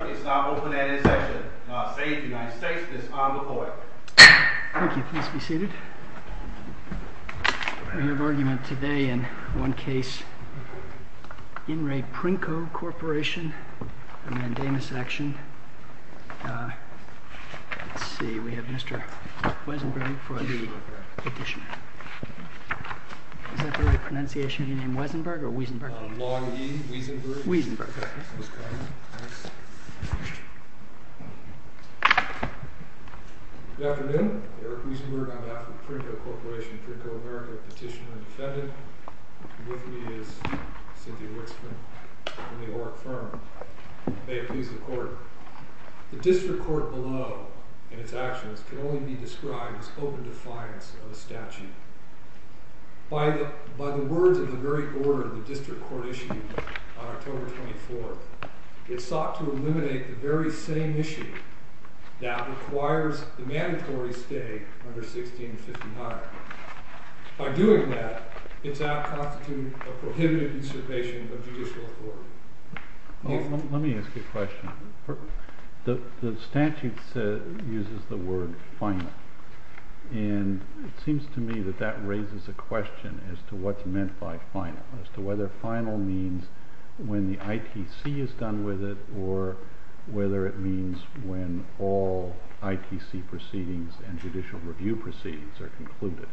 It's now open and in session. The State of the United States is on the point. Thank you. Please be seated. We have argument today in one case. In Re Princo Corporation Mandamus action Let's see, we have Mr. Wiesenberg for the petition. Is that the right pronunciation? Your name Wiesenberg or Wiesenberg? Long E, Wiesenberg. Mr. Wiesenberg. Good afternoon. I'm Eric Wiesenberg. I'm after the Princo Corporation, Princo America petitioner and defendant. With me is Cynthia Wittsman from the Oreck firm. May it please the court. The district court below in its actions can only be described as open defiance of the statute. By the words of the very order of the district court issued on October 24th, it sought to eliminate the very same issue that requires the mandatory stay under 1659. By doing that, it's out constitute a prohibited observation of judicial authority. Let me ask you a question. The statute uses the word final. And it seems to me that that raises a question as to what's meant by final. As to whether final means when the ITC is done with it or whether it means when all ITC proceedings and judicial review proceedings are concluded.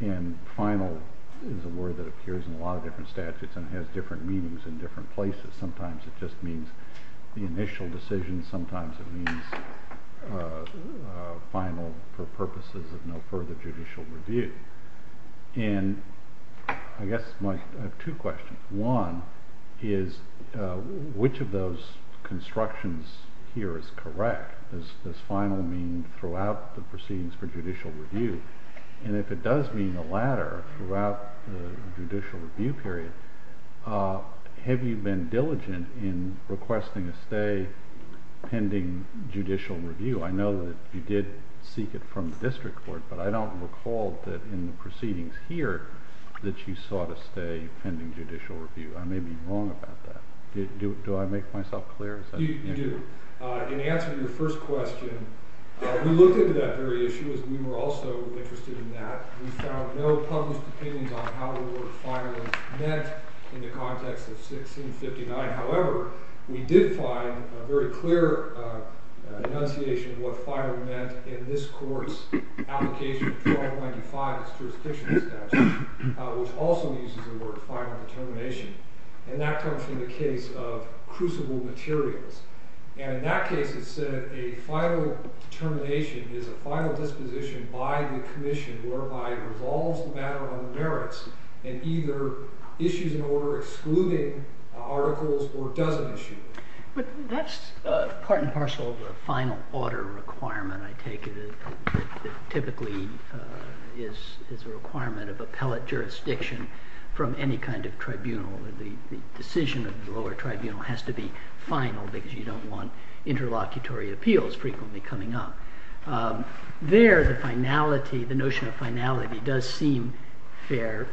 And final is a word that appears in a lot of different statutes and has different meanings in different places. Sometimes it just means the initial decision. Sometimes it means final for purposes of no further judicial review. I have two questions. One is which of those constructions here is correct? Does final mean throughout the proceedings for judicial review? And if it does mean the latter throughout the judicial review period, have you been diligent in requesting a stay pending judicial review? I know that you did seek it from the district court, but I don't recall that in the proceedings here that you sought a stay pending judicial review. I may be wrong about that. Do I make myself clear? You do. In answer to your first question, we looked into that very issue as we were also interested in that. We found no published opinions on how the word final meant in the context of 1659. However, we did find a very clear enunciation of what final meant in this court's application of 1295 as jurisdictional statute, which also uses the word final determination. And that comes from the case of crucible materials. And in that case, it said a final determination is a final disposition by the commission whereby it resolves the matter on merits and either issues an order excluding articles or doesn't issue them. But that's part and parcel of the final order requirement I take it typically is a requirement of appellate jurisdiction from any kind of tribunal. The decision of the lower tribunal has to be final because you don't want interlocutory appeals frequently coming up. There, the finality, the notion of finality does seem fair.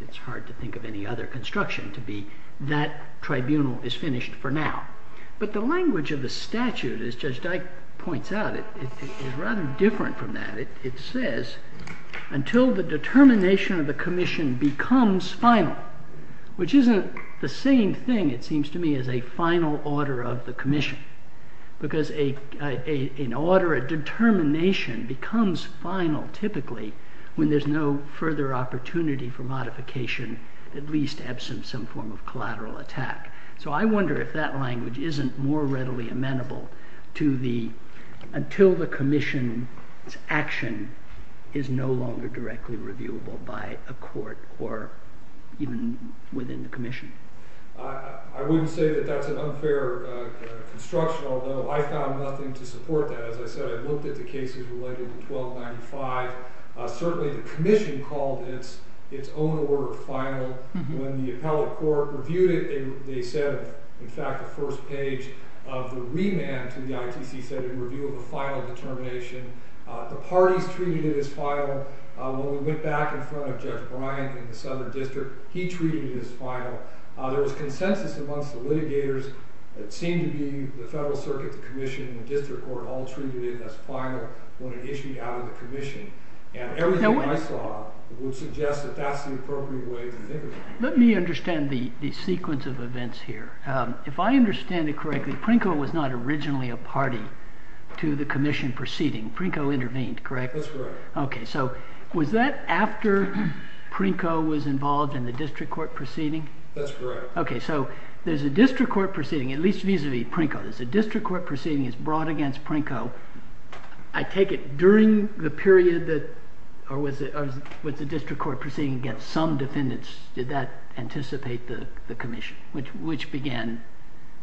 It's hard to think of any other construction to be that tribunal is finished for now. But the language of the statute, as Judge Dyke points out, is rather different from that. It says until the determination of the commission becomes final, which isn't the same thing it seems to me as a final order of the commission. Because an order, a determination becomes final typically when there's no further opportunity for modification at least absent some form of that language isn't more readily amenable to the until the commission's action is no longer directly reviewable by a court or even within the commission. I wouldn't say that that's an unfair construction, although I found nothing to support that. As I said, I looked at the cases related to 1295. Certainly the commission called its own order final. When the appellate court reviewed it, they said, in fact the first page of the remand to the ITC said it would be a final determination. The parties treated it as final. When we went back in front of Judge Bryant in the Southern District, he treated it as final. There was consensus amongst the litigators. It seemed to be the Federal Circuit, the Commission, and the District Court all treated it as final when it issued out of the commission. And everything I saw would suggest that that's the appropriate way to think of it. Let me understand the sequence of events here. If I understand it correctly, Prinko was not originally a party to the commission proceeding. Prinko intervened, correct? That's correct. Was that after Prinko was involved in the District Court proceeding? That's correct. There's a District Court proceeding, at least vis-a-vis Prinko. There's a District Court proceeding brought against Prinko. I take it during the period that the District Court proceeding against some defendants, did that anticipate the commission? Which began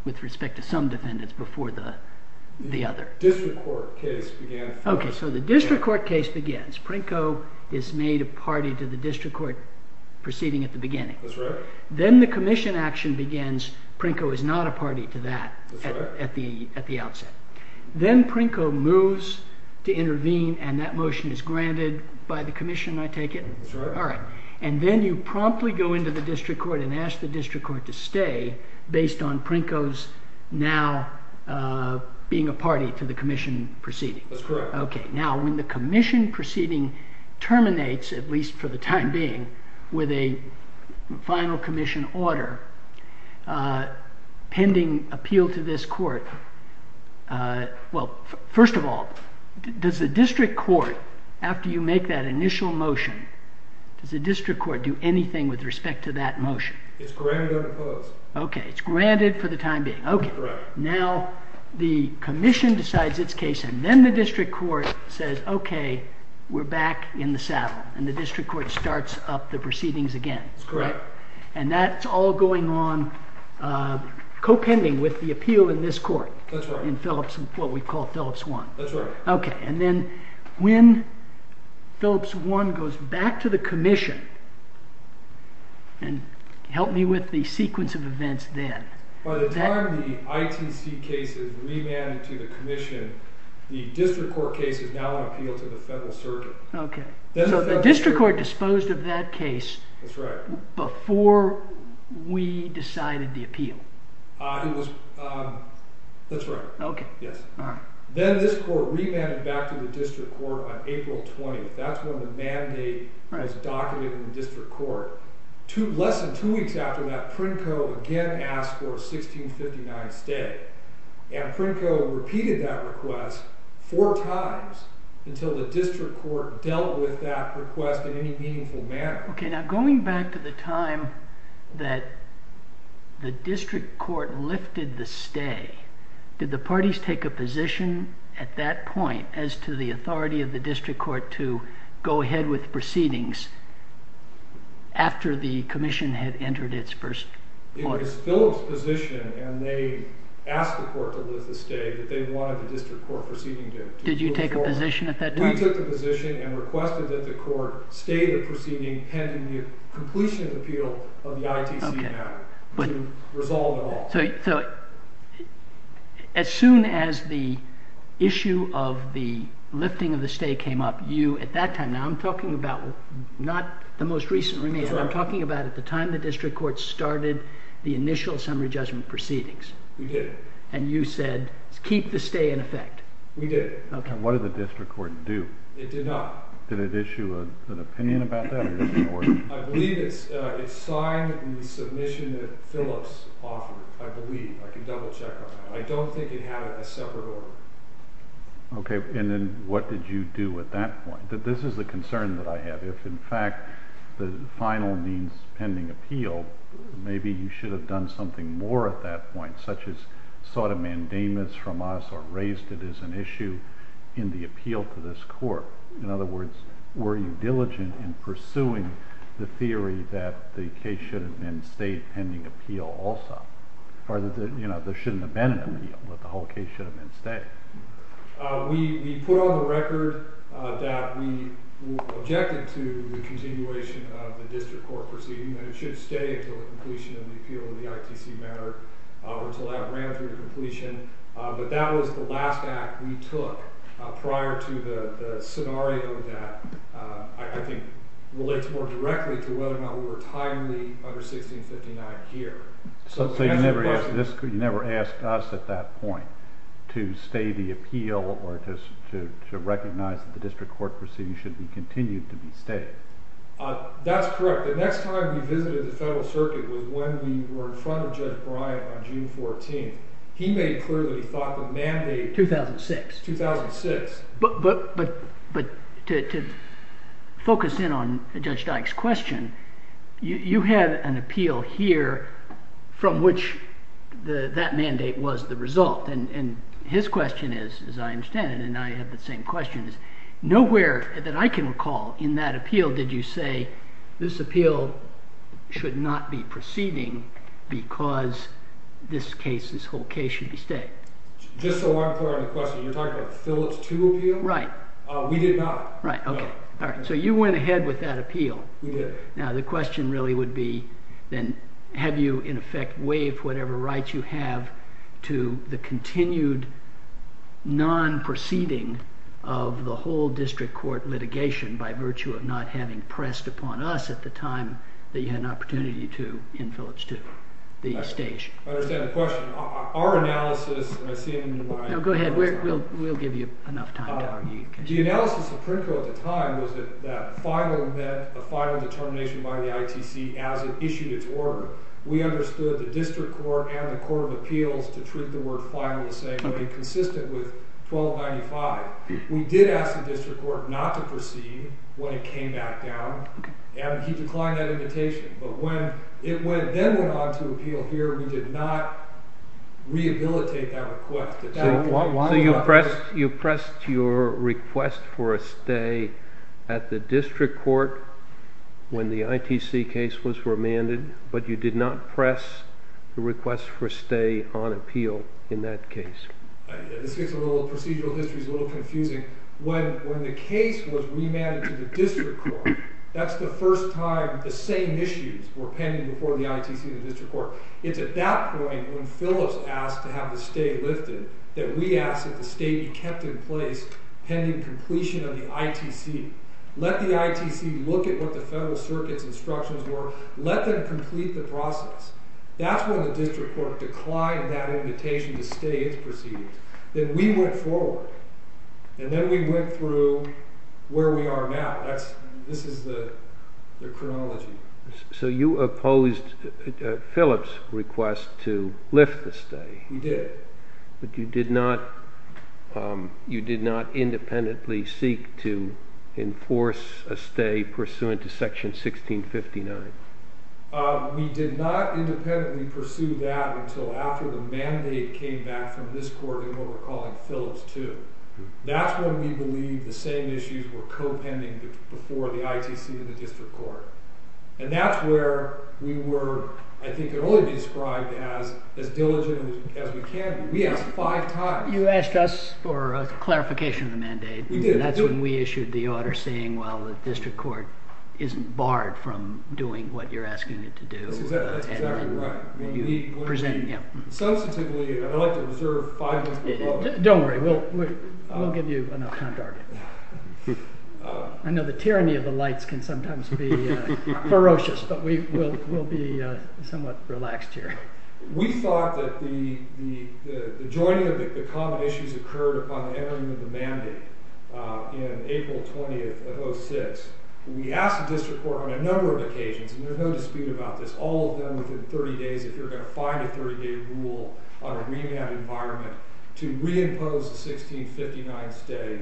with respect to some defendants before the other? The District Court case began... Okay, so the District Court case begins. Prinko is made a party to the District Court proceeding at the beginning. That's right. Then the commission action begins. Prinko is not a party to that at the outset. Then Prinko moves to intervene, and that motion is granted by the commission, I take it? And then you promptly go into the District Court and ask the District Court to stay based on Prinko's now being a party to the commission proceeding. That's correct. Okay. Now, when the commission proceeding terminates, at least for the time being, with a final commission order, pending appeal to this court, well, first of all, does the District Court, after you make that initial motion, does the District Court do anything with respect to that motion? It's granted on the post. Okay, it's granted for the time being. Okay. Right. Now, the commission decides its case, and then the District Court says okay, we're back in the saddle, and the District Court starts up the proceedings again. That's correct. And that's all going on co-pending with the appeal in this court. That's right. In what we call Phillips I. That's right. Okay, and then when Phillips I goes back to the commission, and help me with the sequence of events then. By the time the ITC case is remanded to the commission, the District Court case is now on appeal to the Federal Surgeon. Okay. So the District Court disposed of that case before we decided the appeal. That's right. Okay. Then this court remanded back to the District Court on April 20th. That's when the mandate was documented in the District Court. Less than two weeks after that, Pritko again asked for a 1659 stay, and Pritko repeated that request four times until the District Court dealt with that request in any meaningful manner. Okay, now going back to the time that the District Court lifted the stay, did the parties take a position at that point as to the authority of the District Court to go ahead with proceedings after the commission had entered its first quarter? It was Phillips' position and they asked the court to lift the stay that they wanted the District Court proceeding to move forward. Did you take a position at that time? We took the position and requested that the court stay the proceeding pending the completion of the appeal of the ITC Act to resolve at all. So, as soon as the issue of the lifting of the stay came up, you at that time, now I'm talking about not the most recent remand, I'm talking about at the time the District Court started the initial summary judgment proceedings. We did. And you said, keep the stay in effect. We did. And what did the District Court do? It did not. Did it issue an opinion about that? I believe it signed the submission that Phillips offered, I believe. I can double check on that. I don't think it had a separate order. Okay, and then what did you do at that point? This is the concern that I have. If, in fact, the final means pending appeal, maybe you should have done something more at that point, such as sought a mandamus from us or raised it as an issue in the courts. Were you diligent in pursuing the theory that the case should have been stay pending appeal also? There shouldn't have been an appeal, but the whole case should have been stay. We put on the record that we objected to the continuation of the District Court proceeding, that it should stay until the completion of the appeal of the ITC matter, or until that ran through to completion. But that was the last act we took prior to the scenario that I think relates more directly to whether or not we were timely under 1659 here. So you never asked us at that point to stay the appeal or to recognize that the District Court proceeding should be continued to be stayed? That's correct. The next time we visited the Federal Circuit was when we were in front of Judge Bryant on June 14th. He made it clear that he thought the mandate 2006. But to focus in on Judge Dyke's question, you have an appeal here from which that mandate was the result. And his question is, as I understand it, and I have the same question, nowhere that I can recall in that appeal did you say this appeal should not be proceeding because this case, this whole case should be stayed. Just so I'm clear on the question, you're talking about the Phillips II appeal? Right. We did not. So you went ahead with that appeal. We did. Now the question really would be, then, have you in effect waived whatever rights you have to the continued non-proceeding of the whole District Court litigation by virtue of not having pressed upon us at the time that you had an opportunity to in Phillips II. I understand the question. Our analysis, and I see Go ahead. We'll give you enough time to argue. The analysis of Pritko at the time was that that final event, the final determination by the ITC as it issued its order, we understood the District Court and the Court of Appeals to treat the word final as saying consistent with 1295. We did ask the District Court not to proceed when it came back down. And he declined that invitation. But when it then went on to appeal here, we did not rehabilitate that request. So you pressed your request for a stay at the District Court when the ITC case was remanded, but you did not press the request for a stay on appeal in that case. Procedural history is a little confusing. When the case was remanded to the District Court, that's the first time the same issues were pending before the ITC and the District Court. It's at that point when Phillips asked to have the stay lifted that we asked that the stay be kept in place pending completion of the ITC. Let the ITC look at what the Federal Circuit's instructions were. Let them complete the process. That's when the District Court declined that invitation to stay its proceedings. Then we went forward. And then we went through where we are now. This is the chronology. So you opposed Phillips' request to lift the stay? We did. But you did not independently seek to enforce a stay pursuant to section 1659? We did not independently pursue that until after the mandate came back from this court in what we're calling Phillips 2. That's when we believe the same issues were co-pending before the ITC and the District Court. And that's where we were, I think, only described as diligent as we can be. We asked five times. You asked us for a clarification of the mandate. That's when we issued the order saying, well, the District Court isn't barred from doing what you're asking it to do. That's exactly right. Substantively, I'd like to observe Don't worry. We'll give you enough time to argue. I know the tyranny of the lights can sometimes be ferocious, but we'll be somewhat relaxed here. We thought that the joining of the common issues occurred upon the entering of the mandate in April 20th of 06. We asked the District Court on a number of occasions, and there's no dispute about this, all of them within 30 days, if you're going to find a 30-day rule on a remand environment to reimpose the 1659 state.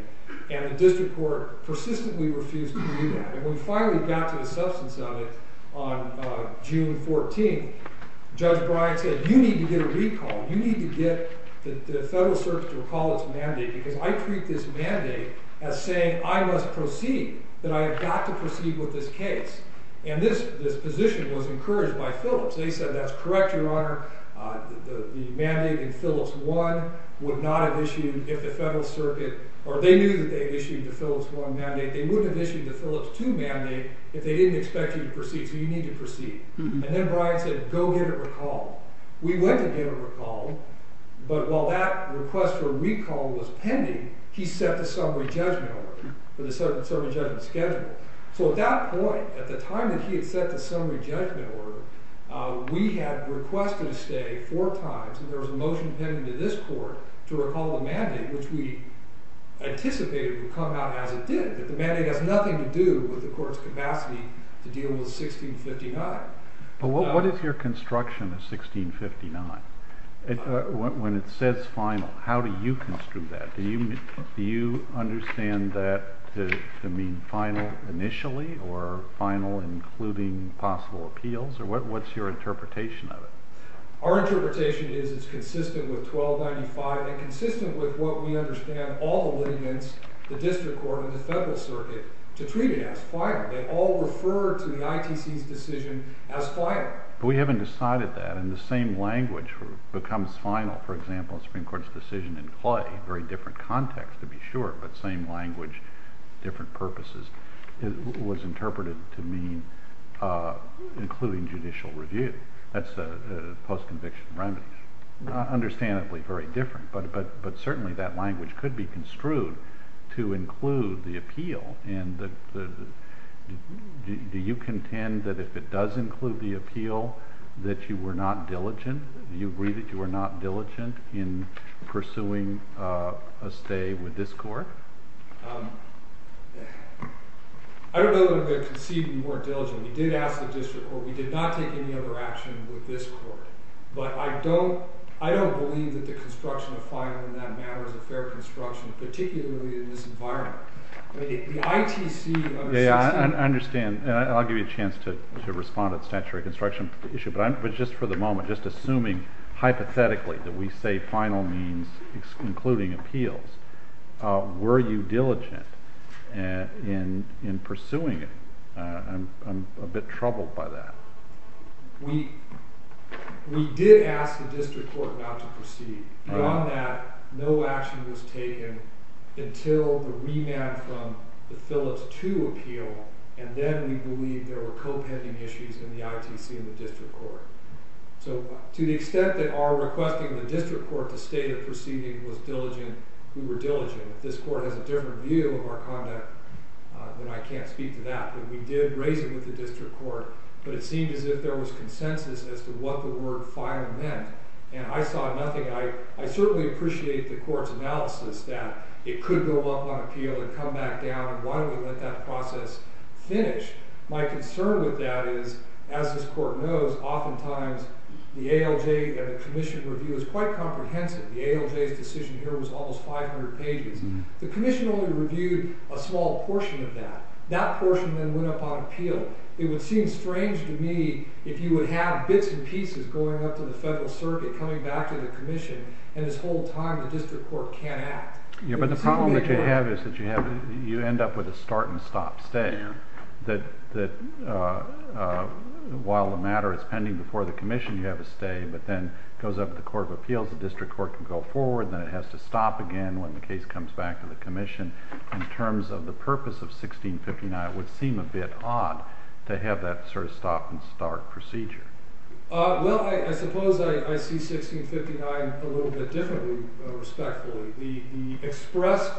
And the District Court persistently refused to do that. And when we finally got to the substance of it on June 14th, Judge Bryant said, you need to get a recall. You need to get the Federal Circuit to recall its mandate, because I treat this mandate as saying I must proceed, that I have got to proceed with this case. And this position was encouraged by Phillips. They said, that's correct, Your Honor. The mandate in Phillips 1 would not have issued if the Federal Circuit, or they knew that they issued the Phillips 1 mandate, they wouldn't have issued the Phillips 2 mandate if they didn't expect you to proceed, so you need to proceed. And then Bryant said, go get a recall. We went to get a recall, but while that request for a recall was pending, he set the summary judgment order, the summary judgment schedule. So at that point, at the time that he had set the summary judgment order, we had requested a stay four times, and there was a motion pending to this court to recall the mandate, which we anticipated would come out as it did, that the mandate has nothing to do with the court's capacity to deal with 1659. But what is your construction of 1659? When it says final, how do you construe that? Do you understand that to mean final initially, or final including possible appeals, or what's your interpretation of it? Our interpretation is it's consistent with 1295 and consistent with what we understand all the litigants, the District Court and the Federal Circuit, to treat it as final. They all refer to the ITC's decision as final. But we haven't decided that, and the same language becomes final. For example, the Supreme Court's decision in Clay, very different context to be sure, but same language, different purposes, was interpreted to mean including judicial review. That's a post conviction remedy. Not understandably very different, but certainly that language could be construed to include the appeal, and do you contend that if it does include the appeal, that you were not diligent? Do you agree that you were not diligent in pursuing a stay with this Court? I don't know if I could concede that you weren't diligent. We did ask the District Court. We did not take any other action with this Court. But I don't believe that the construction of final in that matter is a fair construction, particularly in this environment. The ITC Yeah, I understand. I'll give you a chance to respond to the statutory construction issue, but just for the moment, just assuming hypothetically that we say final means including appeals, were you diligent in pursuing it? I'm a bit troubled by that. We did ask the District Court not to proceed. Beyond that, no action was taken until the remand from the Phillips II appeal, and then we believe there were co-pending issues in the ITC and the District Court. So to the extent that our requesting the District Court to state a proceeding was diligent, we were diligent. If this Court has a different view of our conduct, then I can't speak to that. But we did raise it with the District Court, but it seemed as if there was consensus as to what the word final meant. And I saw nothing. I certainly appreciate the Court's analysis that it could go up on appeal and come back down, and why don't we let that process finish? My concern with that is, as this Court knows, oftentimes the ALJ and the Commission review is quite comprehensive. The ALJ's decision here was almost 500 pages. The Commission only reviewed a small portion of that. That portion then went up on appeal. It would seem strange to me if you would have bits and pieces going up to the Federal Circuit, coming back to the Commission, and this whole time the District Court can't act. But the problem that you have is that you end up with a start and stop stay. That while the matter is pending before the Commission, you have a stay, but then it goes up to the Court of Appeals, the District Court can go forward, then it has to stop again when the case comes back to the Commission. In terms of the purpose of 1659, it would seem a bit odd to have that sort of stop and start procedure. Well, I suppose I see 1659 a little bit differently, respectfully. The expressed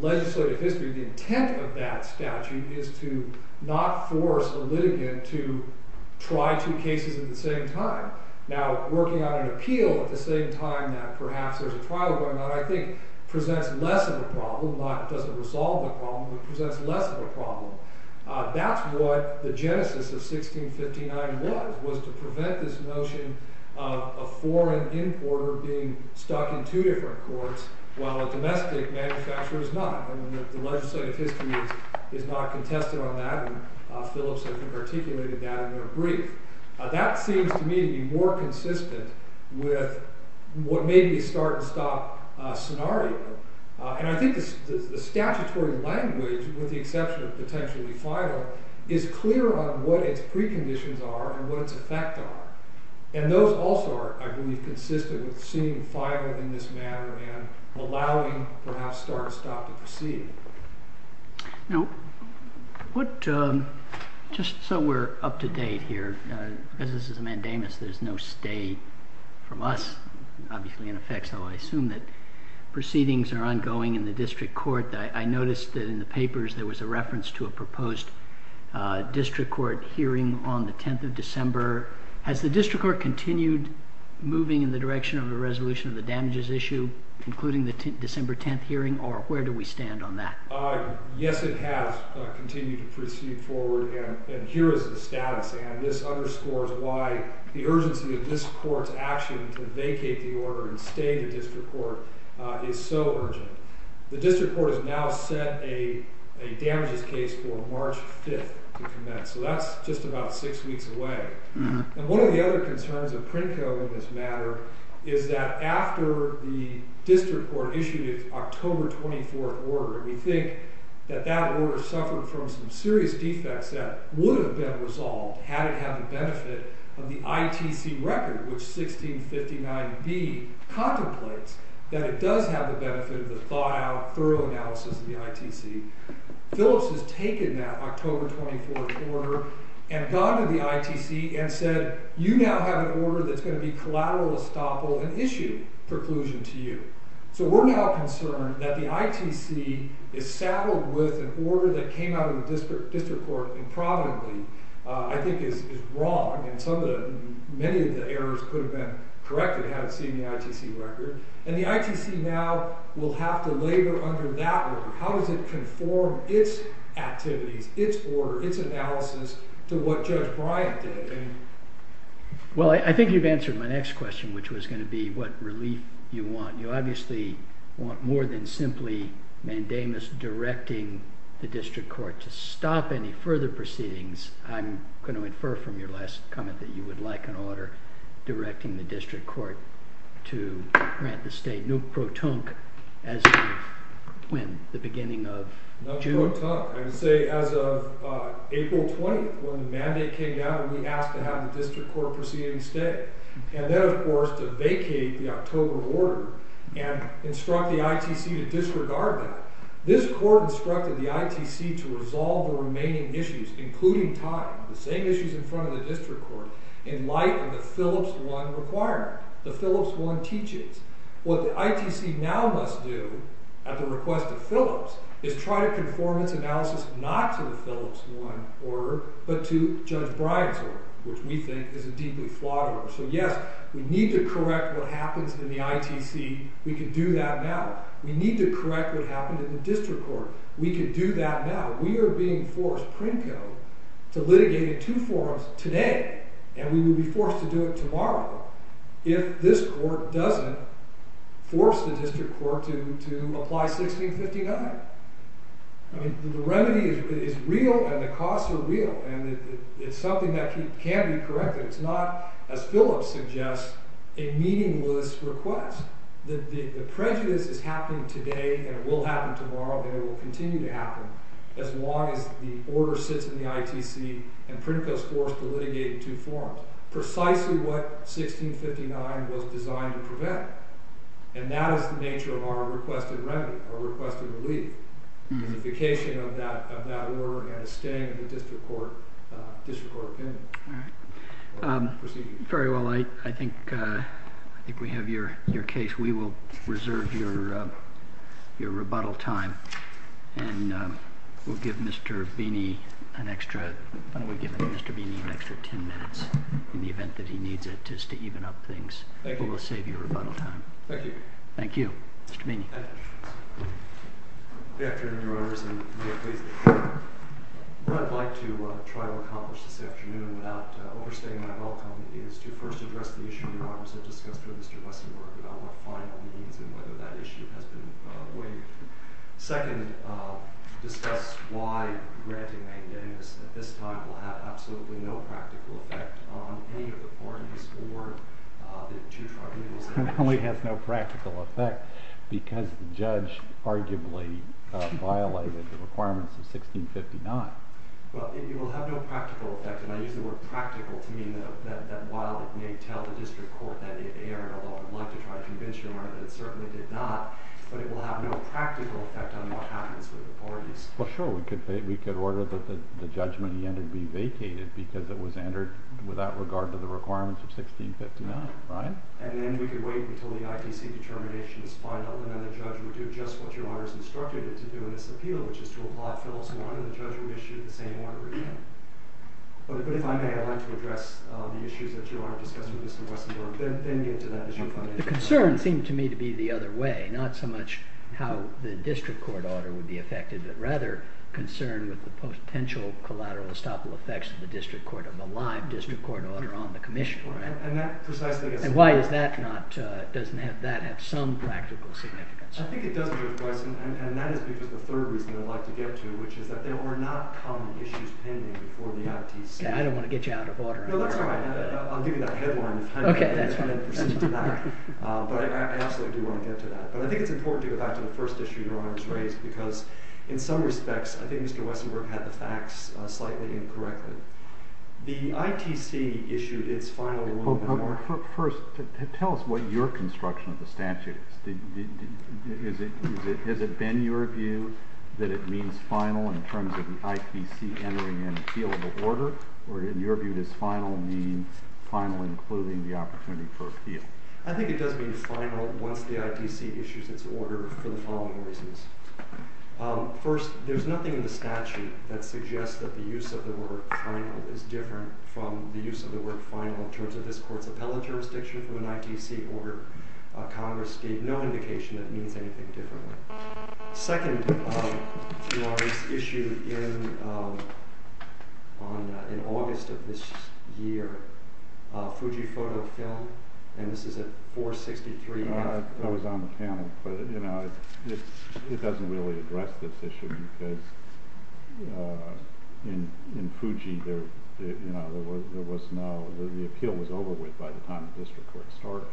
legislative history, the intent of that statute is to not force a litigant to try two cases at the same time. Now, working on an appeal at the same time that perhaps there's a trial going on, I think, presents less of a problem, not that it doesn't resolve the problem, but presents less of a problem. That's what the genesis of 1659 was, was to prevent this notion of a foreign importer being stuck in two different courts while a domestic manufacturer is not. I mean, the legislative history is not contested on that, and Phillips, I think, articulated that in their brief. That seems to me to be more consistent with what made me start and stop scenario. And I think the statutory language, with the exception of potentially final, is clear on what its preconditions are and what its effects are. And those also are, I believe, consistent with seeing final in this manner and allowing perhaps start and stop to proceed. Now, what, just so we're up to date here, because this is a mandamus, there's no stay from us, obviously, in effect, so I assume that proceedings are ongoing in the district court. I noticed that in the papers there was a reference to a proposed district court hearing on the 10th of December. Has the district court continued moving in the direction of a resolution of the damages issue, including the December 10th hearing, or where do we stand on that? Yes, it has continued to proceed forward, and here is the status. And this underscores why the urgency of this court's action to vacate the order and stay in the district court is so urgent. The district court has now set a damages case for March 5th to commence. So that's just about six weeks away. And one of the other concerns of PRINCO in this matter is that after the district court issued its October 24th order, and we think that that order suffered from some serious defects that would have been resolved had it had the benefit of the ITC record, which 1659B contemplates that it does have the benefit of the thought-out, thorough analysis of the ITC. Phillips has taken that October 24th order and gone to the ITC and said you now have an order that's going to be collateral estoppel and issue preclusion to you. So we're now concerned that the ITC is saddled with an order that came out of the district court improvidently, I think is wrong, and some of the, many of the errors could have been corrected had it seen the ITC record. And the ITC now will have to labor under that order. How does it conform its activities, its order, its analysis to what Judge Bryant did? Well, I think you've answered my next question, which was going to be what relief you want. You obviously want more than simply Mandamus directing the district court to stop any further proceedings. I'm going to infer from your last comment that you would like an order directing the district court no pro-tunc as of when? The beginning of June? No pro-tunc. I would say as of April 20th, when the mandate came down and we asked to have the district court proceed instead. And then of course to vacate the October order and instruct the ITC to disregard that. This court instructed the ITC to resolve the remaining issues, including time, the same issues in front of the district court, in light of the Phillips 1 requirement. The Phillips 1 teaches. What the ITC now must do, at the request of Phillips, is try to conform its analysis not to the Phillips 1 order, but to Judge Bryant's order, which we think is a deeply flawed order. So yes, we need to correct what happens in the ITC. We can do that now. We need to correct what happened in the district court. We can do that now. We are being forced, Princo, to litigate in two forms today and we will be forced to do it tomorrow if this court doesn't force the district court to apply 1659. The remedy is real and the costs are real and it's something that can't be corrected. It's not, as Phillips suggests, a meaningless request. The prejudice is happening today and it will happen tomorrow and it will continue to happen as long as the order sits in the ITC and Princo is forced to litigate in two forms, precisely what 1659 was designed to prevent. And that is the nature of our requested remedy, our requested relief. The justification of that order is staying in the district court opinion. Proceeding. I think we have your case. We will reserve your rebuttal time and we'll give Mr. Beeney an extra 10 minutes in the event that he needs it just to even up things. It will save you rebuttal time. Thank you. Mr. Beeney. Good afternoon, Your Honors. What I'd like to try to accomplish this afternoon without overstating my welcome is to first address the issue Your Honors have discussed with Mr. Westenberg about what final means and whether that issue has been waived. Second, discuss why granting a witness at this time will have absolutely no practical effect on any of the parties or the two tribunals. It only has no practical effect because the judge arguably violated the requirements of 1659. It will have no practical effect, and I use the word practical to mean that while it may tell the district court that it erred, although I would like to try to convince Your Honor that it certainly did not, but it will have no practical effect on what happens with the parties. Well sure, we could order the judgment he entered be vacated because it was entered without regard to the requirements of 1659, right? And then we could wait until the IPC determination is final, and then the judge would do just what Your Honor has instructed it to do in this appeal, which is to apply Phillips 1 and the judge would issue the same order again. But if I may, I'd like to address the issues that Your Honor discussed with Mr. Westenberg, then get to that issue. The concern seemed to me to be the other way, not so much how the district court order would be affected, but rather concern with the potential collateral estoppel effects of the district court order on the commission. And why is that not, doesn't that have some practical significance? I think it does, Judge Weissen, and that is because the third reason I'd like to get to, which is that there are not common issues pending before the ITC. I don't want to get you out of order. No, that's all right. I'll give you that headline. Okay, that's fine. But I absolutely do want to get to that. But I think it's important to get back to the first issue Your Honor has raised, because in some respects, I think Mr. Westenberg had the facts slightly incorrectly. The ITC issued its final ruling. First, tell us what your construction of the statute is. Has it been your view that it means final in terms of the ITC entering in a field of order, or in your view, does final mean final including the opportunity for appeal? I think it does mean final once the ITC issues its order for the following reasons. First, there's nothing in the statute that suggests that the use of the word final is different from the use of the word final in terms of this Court's appellate jurisdiction from an ITC order. Congress gave no indication that it means anything differently. Second, Your Honor, this issue in August of this year, Fujifoto Film, and this is at 463. It was on the panel, but it doesn't really address this issue because in Fuji there was no, the appeal was over with by the time the district court started.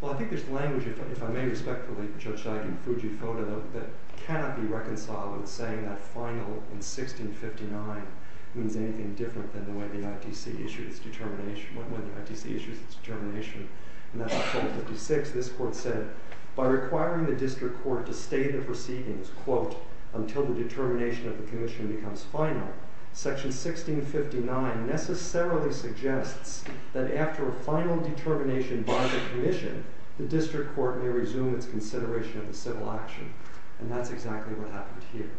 Well, I think there's language, if I may respectfully judge, in Fujifoto that cannot be reconciled with saying that final in 1659 means anything different than the way the ITC issued its determination. When the ITC issued its determination in that October 56, this Court said by requiring the district court to stay the proceedings, quote, until the determination of the commission becomes final, section 1659 necessarily suggests that after a final determination by the commission, the district court may resume its consideration of the civil action. And that's exactly what happened here.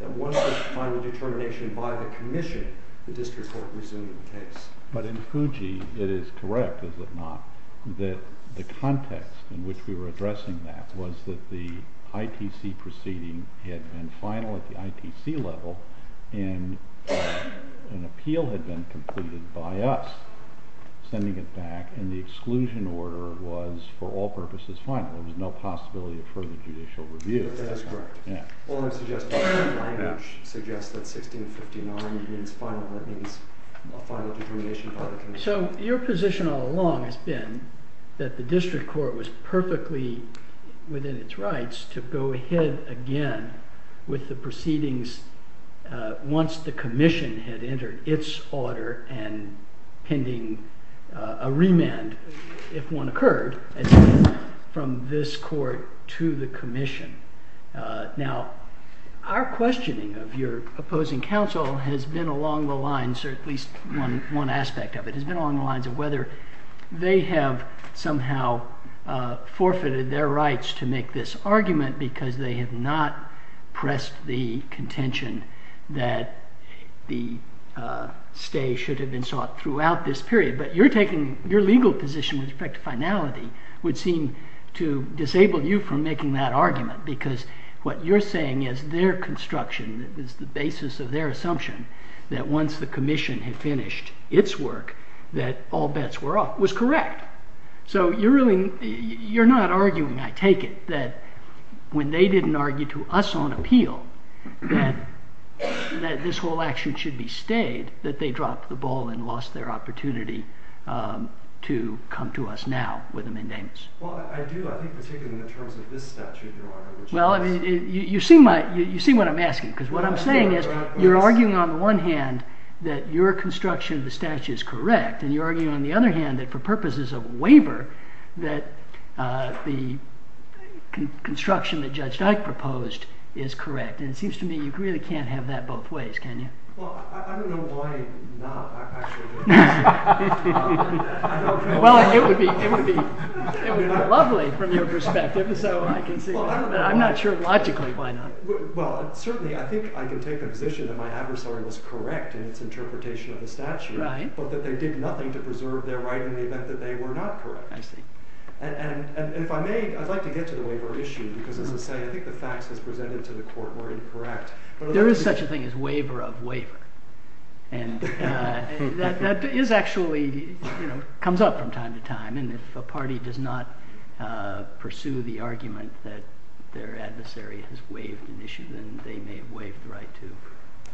That once there's a final determination by the commission, the district court resumed the case. But in Fuji, it is correct, is it not, that the context in which we were that the ITC proceeding had been final at the ITC level and an appeal had been completed by us sending it back and the exclusion order was for all purposes final. There was no possibility of further judicial review. That is correct. All I'm suggesting is that language suggests that 1659 means final. That means a final determination by the commission. So your position all along has been that the district court was perfectly within its rights to go ahead again with the proceedings once the commission had entered its order and pending a remand if one occurred from this court to the commission. Now, our questioning of your opposing counsel has been along the lines, or at least one aspect of it, has been along the lines of whether they have somehow forfeited their rights to make this argument because they have not pressed the contention that the stay should have been sought throughout this period. But you're taking, your legal position with respect to finality would seem to disable you from making that argument because what you're saying is their construction is the basis of their assumption that once the commission had finished its work, that all So you're really, you're not arguing, I take it, that when they didn't argue to us on appeal, that this whole action should be stayed, that they dropped the ball and lost their opportunity to come to us now with a mandamus. Well, I do, I think particularly in terms of this statute, Your Honor. Well, you see what I'm asking, because what I'm saying is, you're arguing on the one hand that your construction of the statute is correct, and you're waver that the construction that Judge Dyke proposed is correct, and it seems to me you really can't have that both ways, can you? Well, I don't know why not, actually. I don't know. Well, it would be lovely from your perspective, so I can see that, but I'm not sure logically why not. Well, certainly I think I can take a position that my adversary was correct in its interpretation of the statute, but that they did nothing to preserve their right in the event that they were not correct. I see. And if I may, I'd like to get to the waiver issue, because as I say, I think the facts as presented to the court were incorrect. There is such a thing as waiver of waiver, and that is actually, you know, comes up from time to time, and if a party does not pursue the argument that their adversary has waived an issue, then they may waive the right to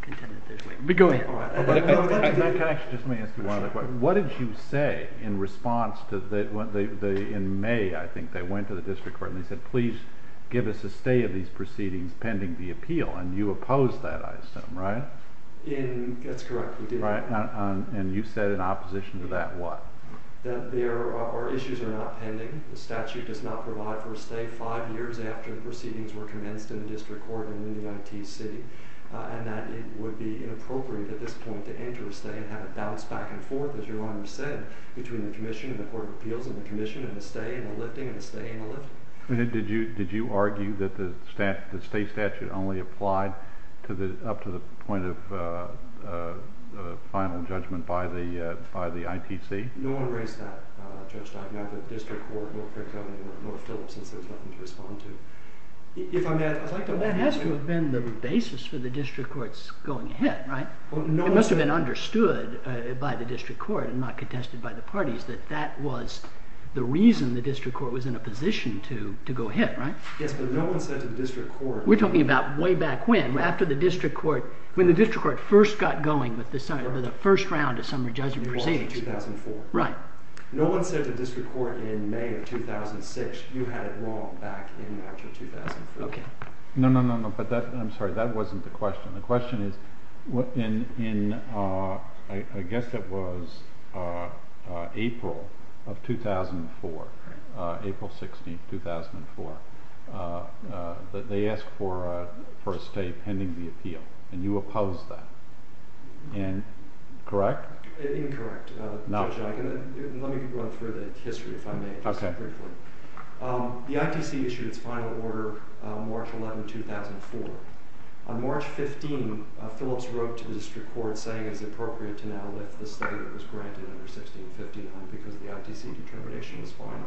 contend that there's waiver. But go ahead. Can I actually just ask you one other question? What did you say in response to the in May, I think, they went to the district court and they said, please give us a stay of these proceedings pending the appeal, and you opposed that, I assume, right? That's correct, we did. And you said in opposition to that what? That there are issues that are not pending, the statute does not provide for a stay five years after the proceedings were commenced in the district court in the United States City, and that it would be inappropriate at this point to enter a stay and have it bounce back and forth, as your Honor said, between the Commission and the Court of Appeals and the Commission and a stay and a lifting and a stay and a lift. Did you argue that the state statute only applied up to the point of final judgment by the ITC? No one raised that, Judge Dockman, at the district court, nor Frick County, nor Philipson, so there's nothing to respond to. If I may, I'd like to That has to have been the basis for the district courts going ahead, right? It must have been understood by the district court, and not contested by the parties, that that was the reason the district court was in a position to go ahead, right? Yes, but no one said to the district court... We're talking about way back when, after the district court, when the district court first got going with the first round of summary judgment proceedings. It was in 2004. Right. No one said to the district court in May of 2006, you had it wrong back in after 2004. No, no, no, but I'm sorry, that wasn't the question. The question is, in, I guess it was April of 2004, April 16, 2004, they asked for a stay pending the appeal, and you opposed that. Correct? Incorrect. Judge, let me run through the history, if I may. Okay. The ITC issued its final order on March 11, 2004. On March 15, Phillips wrote to the district court saying it was appropriate to now lift the stay that was granted under 1659, because the ITC determination was final.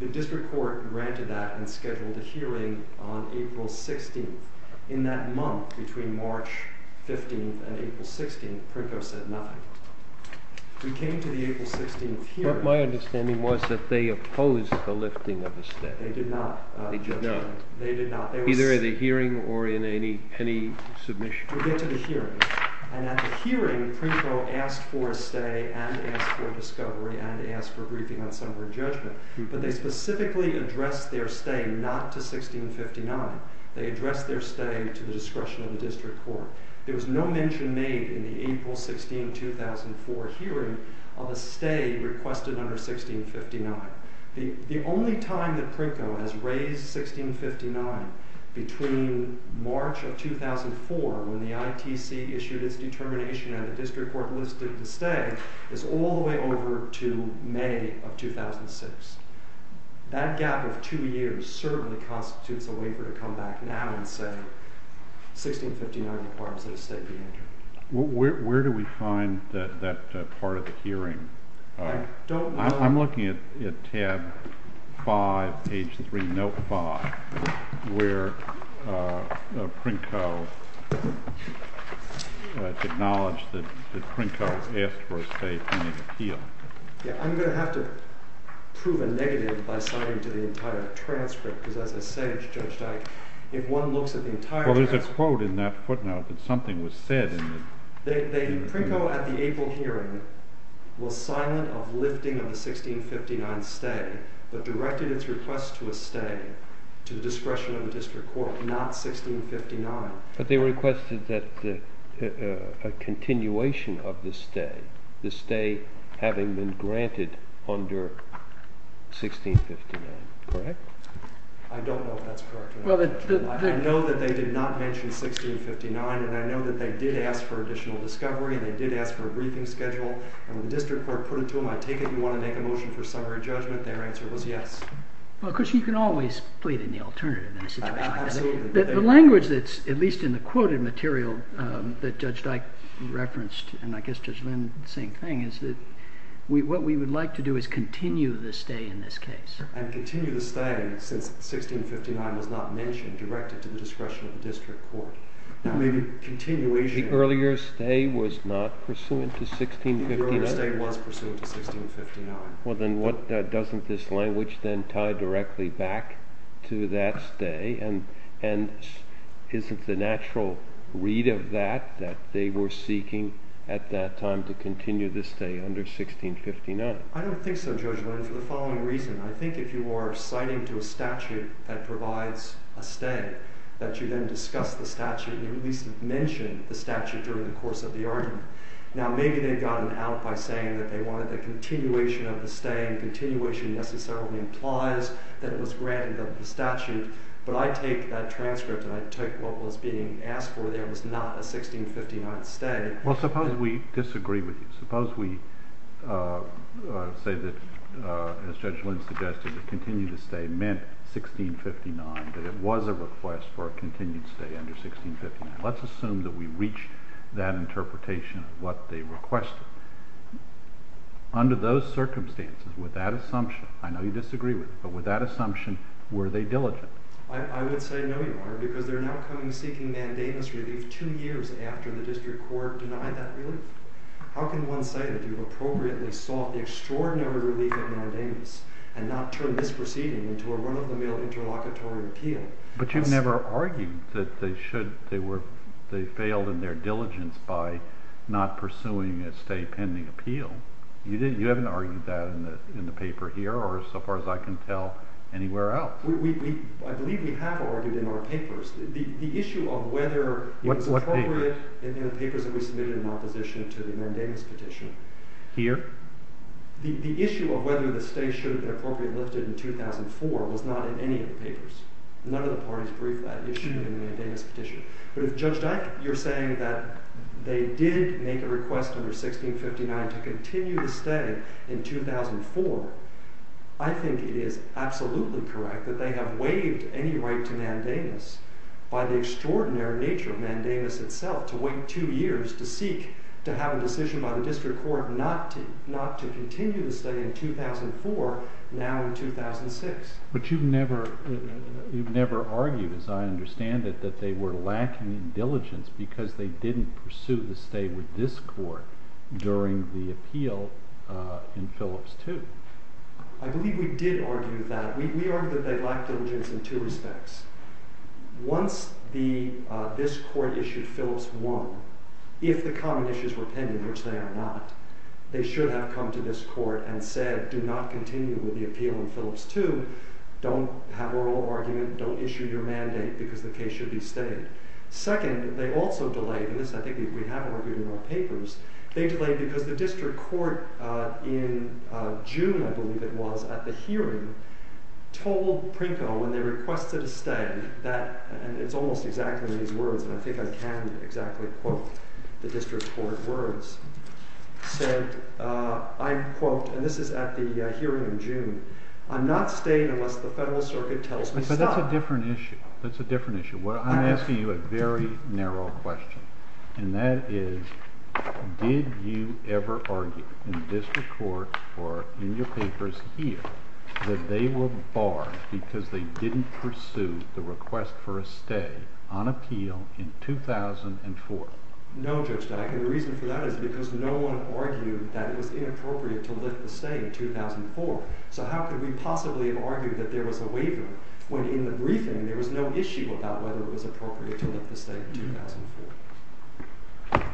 The district court granted that and scheduled a hearing on April 16. In that month, between March 15 and April 16, Prinko said nothing. We came to the April 16 hearing. But my understanding was that they opposed the lifting of the stay. They did not. They did not. Either in the hearing or in any submission. We'll get to the hearing. And at the hearing, Prinko asked for a stay and asked for discovery and asked for a briefing on summary judgment, but they specifically addressed their stay not to 1659. They addressed their stay to the discretion of the district court. There was no mention made in the April 16, 2004 hearing of a stay requested under 1659. The only time that Prinko has raised 1659 between March of 2004, when the ITC issued its determination and the district court listed the stay, is all the way over to May of 2006. That gap of two years certainly constitutes a waiver to come back now and say 1659 requires that a stay be entered. Where do we find that part of the hearing? I'm looking at tab 5, page 3, note 5, where Prinko acknowledged that Prinko asked for a stay pending appeal. I'm going to have to prove a negative by citing to the entire transcript because as I say to Judge Dyke, if one looks at the entire transcript... Well, there's a quote in that footnote that something was said... Prinko at the April hearing was silent of lifting of the 1659 stay, but directed its request to a stay to the discretion of the district court, not 1659. But they requested a continuation of the stay, the stay having been granted under 1659, correct? I don't know if that's correct. I know that they did not mention 1659, and I know that they did ask for additional discovery, they did ask for a briefing schedule, and the district court put it to them, I take it you want to make a motion for summary judgment, their answer was yes. Well, of course, you can always plead in the alternative in a situation like this. The language that's, at least in the quoted material that Judge Dyke referenced, and I guess Judge Lynn the same thing, is that what we would like to do is continue the stay in this case. And continue the stay since 1659 was not mentioned, directed to the discretion of the district court. Now, maybe continuation The earlier stay was not pursuant to 1659? The earlier stay was pursuant to 1659. Well, then doesn't this language then tie directly back to that stay, and isn't the natural read of that that they were seeking at that time to continue the stay under 1659? I don't think so, Judge Lynn, for the following reason. I think if you are citing to a statute that provides a stay, that you then discuss the statute, or at least mention the statute during the course of the argument. Now, maybe they've gotten out by saying that they wanted the continuation of the stay and continuation necessarily implies that it was granted under the statute, but I take that transcript and I take what was being asked for there was not a 1659 stay. Well, suppose we disagree with you. Suppose we say that as Judge Lynn suggested, the continued stay meant 1659, that it was a request for a continued stay under 1659. Let's assume that we reach that interpretation of what they requested. Under those circumstances, with that assumption, I know you disagree with it, but with that assumption, were they diligent? I would say no you are, because they're now coming seeking mandamus relief two years after the district court denied that relief. How can one say that you've appropriately sought the extraordinary relief of mandamus and not turn this proceeding into a run-of-the-mill interlocutory appeal? But you've never argued that they should, they were, they failed in their diligence by not pursuing a stay pending appeal. You haven't argued that in the paper here, or so far as I can tell, anywhere else. I believe we have argued in our papers. The issue of whether it was appropriate in the papers that we submitted in opposition to the mandamus petition. Here? The issue of whether the stay should have been appropriately lifted in 2004 was not in any of the papers. None of the parties briefed that issue in the mandamus petition. But if Judge Dyke, you're saying that they did make a request under 1659 to continue the stay in 2004, I think it is absolutely correct that they have waived any right to mandamus by the extraordinary nature of mandamus itself, to wait two years to seek to have a decision by the district court not to continue the stay in 2004 now in 2006. But you've never argued, as I understand it, that they were lacking in diligence because they didn't pursue the stay with this court during the appeal in Phillips 2. I believe we did argue that. We argued that they lacked diligence in two respects. Once this court issued Phillips 1, if the common issues were pending, which they are not, they should have come to this court and said do not continue with the appeal in Phillips 2, don't have oral argument, don't issue your mandate because the case should be stayed. Second, they also delayed, and this I think we have argued in our papers, they delayed because the district court in June, I believe it was, at the hearing told Prinko when they requested a stay, and it's almost exactly these words, and I think I can exactly quote the district court words, said, I quote, and this is at the hearing in June, I'm not staying unless the federal circuit tells me stop. But that's a different issue. That's a different issue. I'm asking you a very narrow question and that is did you ever argue in the district court or in your papers here that they were barred because they didn't pursue the request for a stay on appeal in 2004? No, Judge Dyck, and the reason for that is because no one argued that it was inappropriate to lift the stay in 2004, so how could we possibly argue that there was a waiver when in the briefing there was no issue about whether it was appropriate to lift the stay in 2004.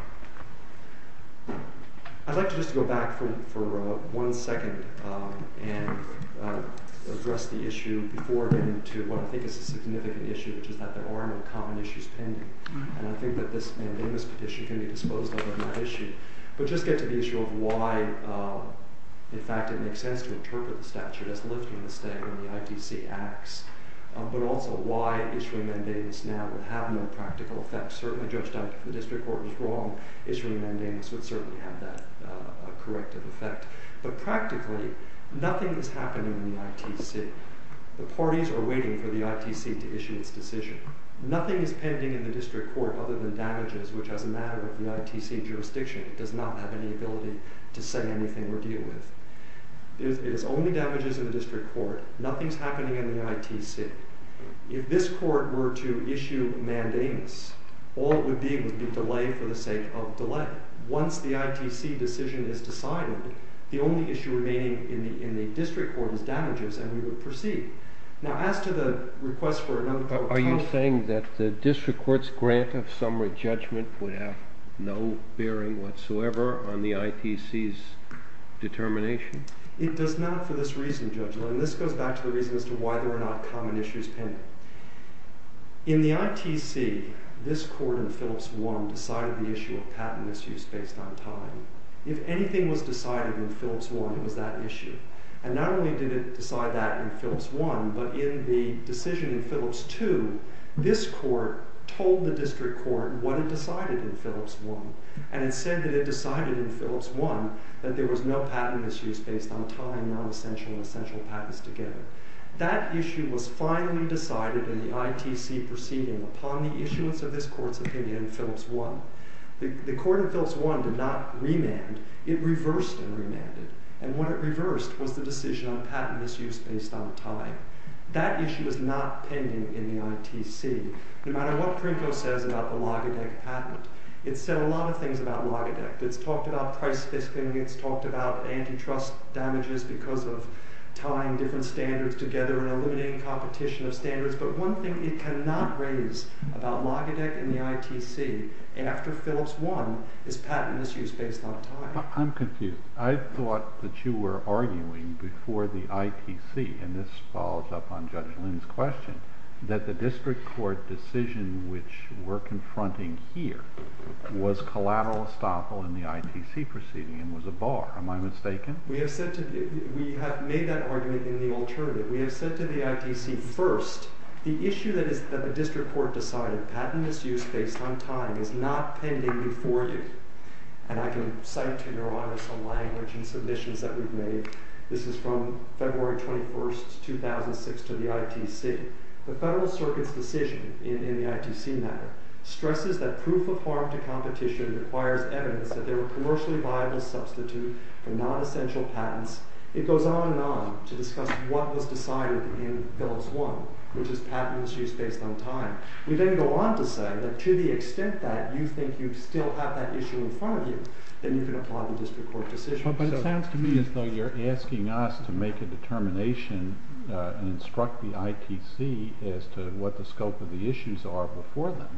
I'd like to just go back for one second and address the issue before getting to what I think is a significant issue, which is that there are no common issues pending, and I think that this mandamus petition can be disposed of on that issue, but just get to the issue of why in fact it makes sense to interpret the statute as lifting the stay when the ITC acts, but also why issuing mandamus now would have no practical effect. Certainly, Judge Dyck, if the district court was wrong, issuing mandamus would have a corrective effect, but practically nothing is happening in the ITC. The parties are waiting for the ITC to issue its decision. Nothing is pending in the district court other than damages, which as a matter of the ITC jurisdiction does not have any ability to say anything or deal with. It is only damages in the district court. Nothing is happening in the ITC. If this court were to issue mandamus, all it would be would be delay for the sake of delay. But once the ITC decision is decided, the only issue remaining in the district court is damages, and we would proceed. Now, as to the request for another Are you saying that the district court's grant of summary judgment would have no bearing whatsoever on the ITC's determination? It does not for this reason, Judge Lynn. This goes back to the reason as to why there are not common issues pending. In the ITC, this court in Phillips had no patent issues based on time. If anything was decided in Phillips 1, it was that issue. And not only did it decide that in Phillips 1, but in the decision in Phillips 2, this court told the district court what it decided in Phillips 1. And it said that it decided in Phillips 1 that there was no patent issues based on time, non-essential and essential patents together. That issue was finally decided in the ITC proceeding upon the issuance of this court's opinion in Phillips 1. The court in Phillips 1 did not remand. It reversed and remanded. And what it reversed was the decision on patent issues based on time. That issue is not pending in the ITC, no matter what Prinko says about the Logadech patent. It's said a lot of things about Logadech. It's talked about price-based pending. It's talked about antitrust damages because of tying different standards together and eliminating competition of standards. But one thing it cannot raise about Logadech and the ITC after Phillips 1 is patent issues based on time. I'm confused. I thought that you were arguing before the ITC, and this follows up on Judge Lynn's question, that the district court decision which we're confronting here was collateral estoppel in the ITC proceeding and was a bar. Am I mistaken? We have made that argument in the alternative. We have said to the ITC first the issue that the district court decided, patent issues based on time is not pending before you. And I can cite to your honor some language and submissions that we've made. This is from February 21, 2006 to the ITC. The Federal Circuit's decision in the ITC matter stresses that proof of harm to competition requires evidence that they were commercially viable substitute for non-essential patents. It goes on and on to discuss what was decided in Phillips 1, which is patent issues based on time. We then go on to say that to the extent that you think you still have that issue in front of you, then you can apply the district court decision. But it sounds to me as though you're asking us to make a determination and instruct the ITC as to what the scope of the issues are before them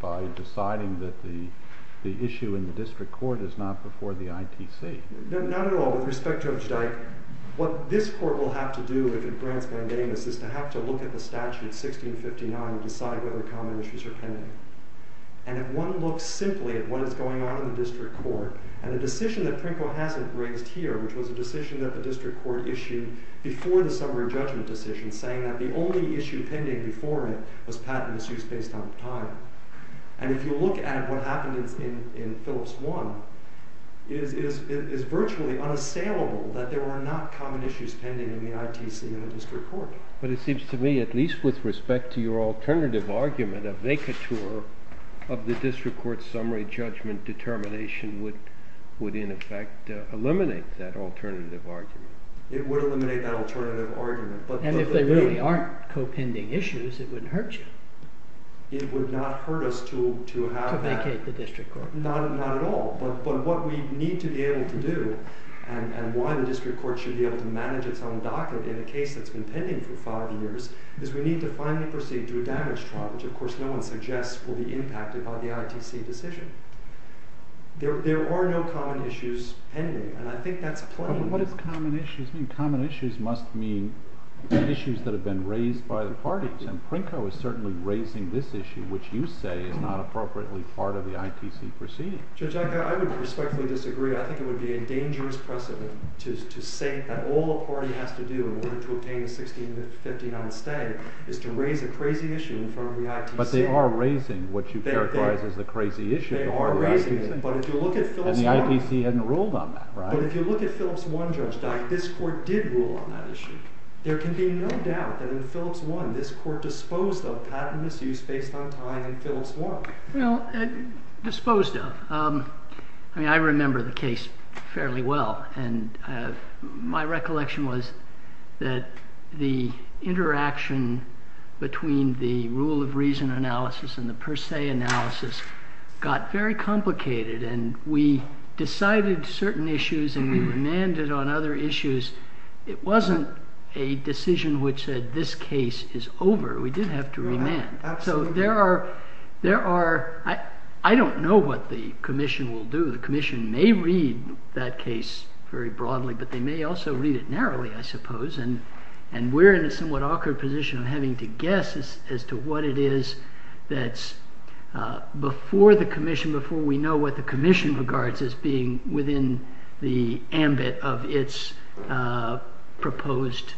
by deciding that the issue in the district court is not before the ITC. Not at all. With respect to Judge Dyke, what this court will have to do if it grants mandamus is to have to look at the statute 1659 and decide whether common issues are pending. And if one looks simply at what is going on in the district court, and the decision that Prinko hasn't raised here, which was a decision that the district court issued before the summary judgment decision saying that the only issue pending before it was patent issues based on time. And if you look at what happened in Phillips 1, it is virtually unassailable that there are not common issues pending in the ITC and the district court. But it seems to me, at least with respect to your alternative argument, a vacatur of the district court summary judgment determination would in effect eliminate that alternative argument. It would eliminate that alternative argument. And if they really aren't co-pending issues, it wouldn't hurt you. It would not hurt us to have that. To vacate the district court. Not at all. But what we need to be able to do, and why the district court should be able to manage its own docket in a case that's been pending for five years, is we need to finally proceed to a damage trial, which of course no one suggests will be impacted by the ITC decision. There are no common issues pending. And I think that's plain. But what does common issues mean? Common issues must mean issues that have been raised by the parties. And Prinko is certainly raising this issue, which you say is not appropriately part of the ITC proceeding. Judge, I would respectfully disagree. I think it would be a dangerous precedent to say that all a party has to do in order to obtain a 16-15 on stay is to raise a crazy issue in front of the ITC. But they are raising what you characterize as the crazy issue. They are raising it, but if you look at Phillips 1. And the ITC hadn't ruled on that, right? But if you look at Phillips 1, Judge, this court did rule on that issue. There can be no doubt that in Phillips 1, this court disposed of patent misuse based on time in Phillips 1. Well, disposed of. I mean, I remember the case fairly well. My recollection was that the interaction between the rule of reason analysis and the per se analysis got very complicated. And we decided certain issues and we remanded on other issues. It wasn't a decision which said this case is over. We did have to remand. So there are I don't know what the commission will do. The commission may read that case very broadly, but they may also read it narrowly I suppose. And we're in a somewhat awkward position of having to guess as to what it is that's before the commission, before we know what the commission regards as being within the ambit of its proposed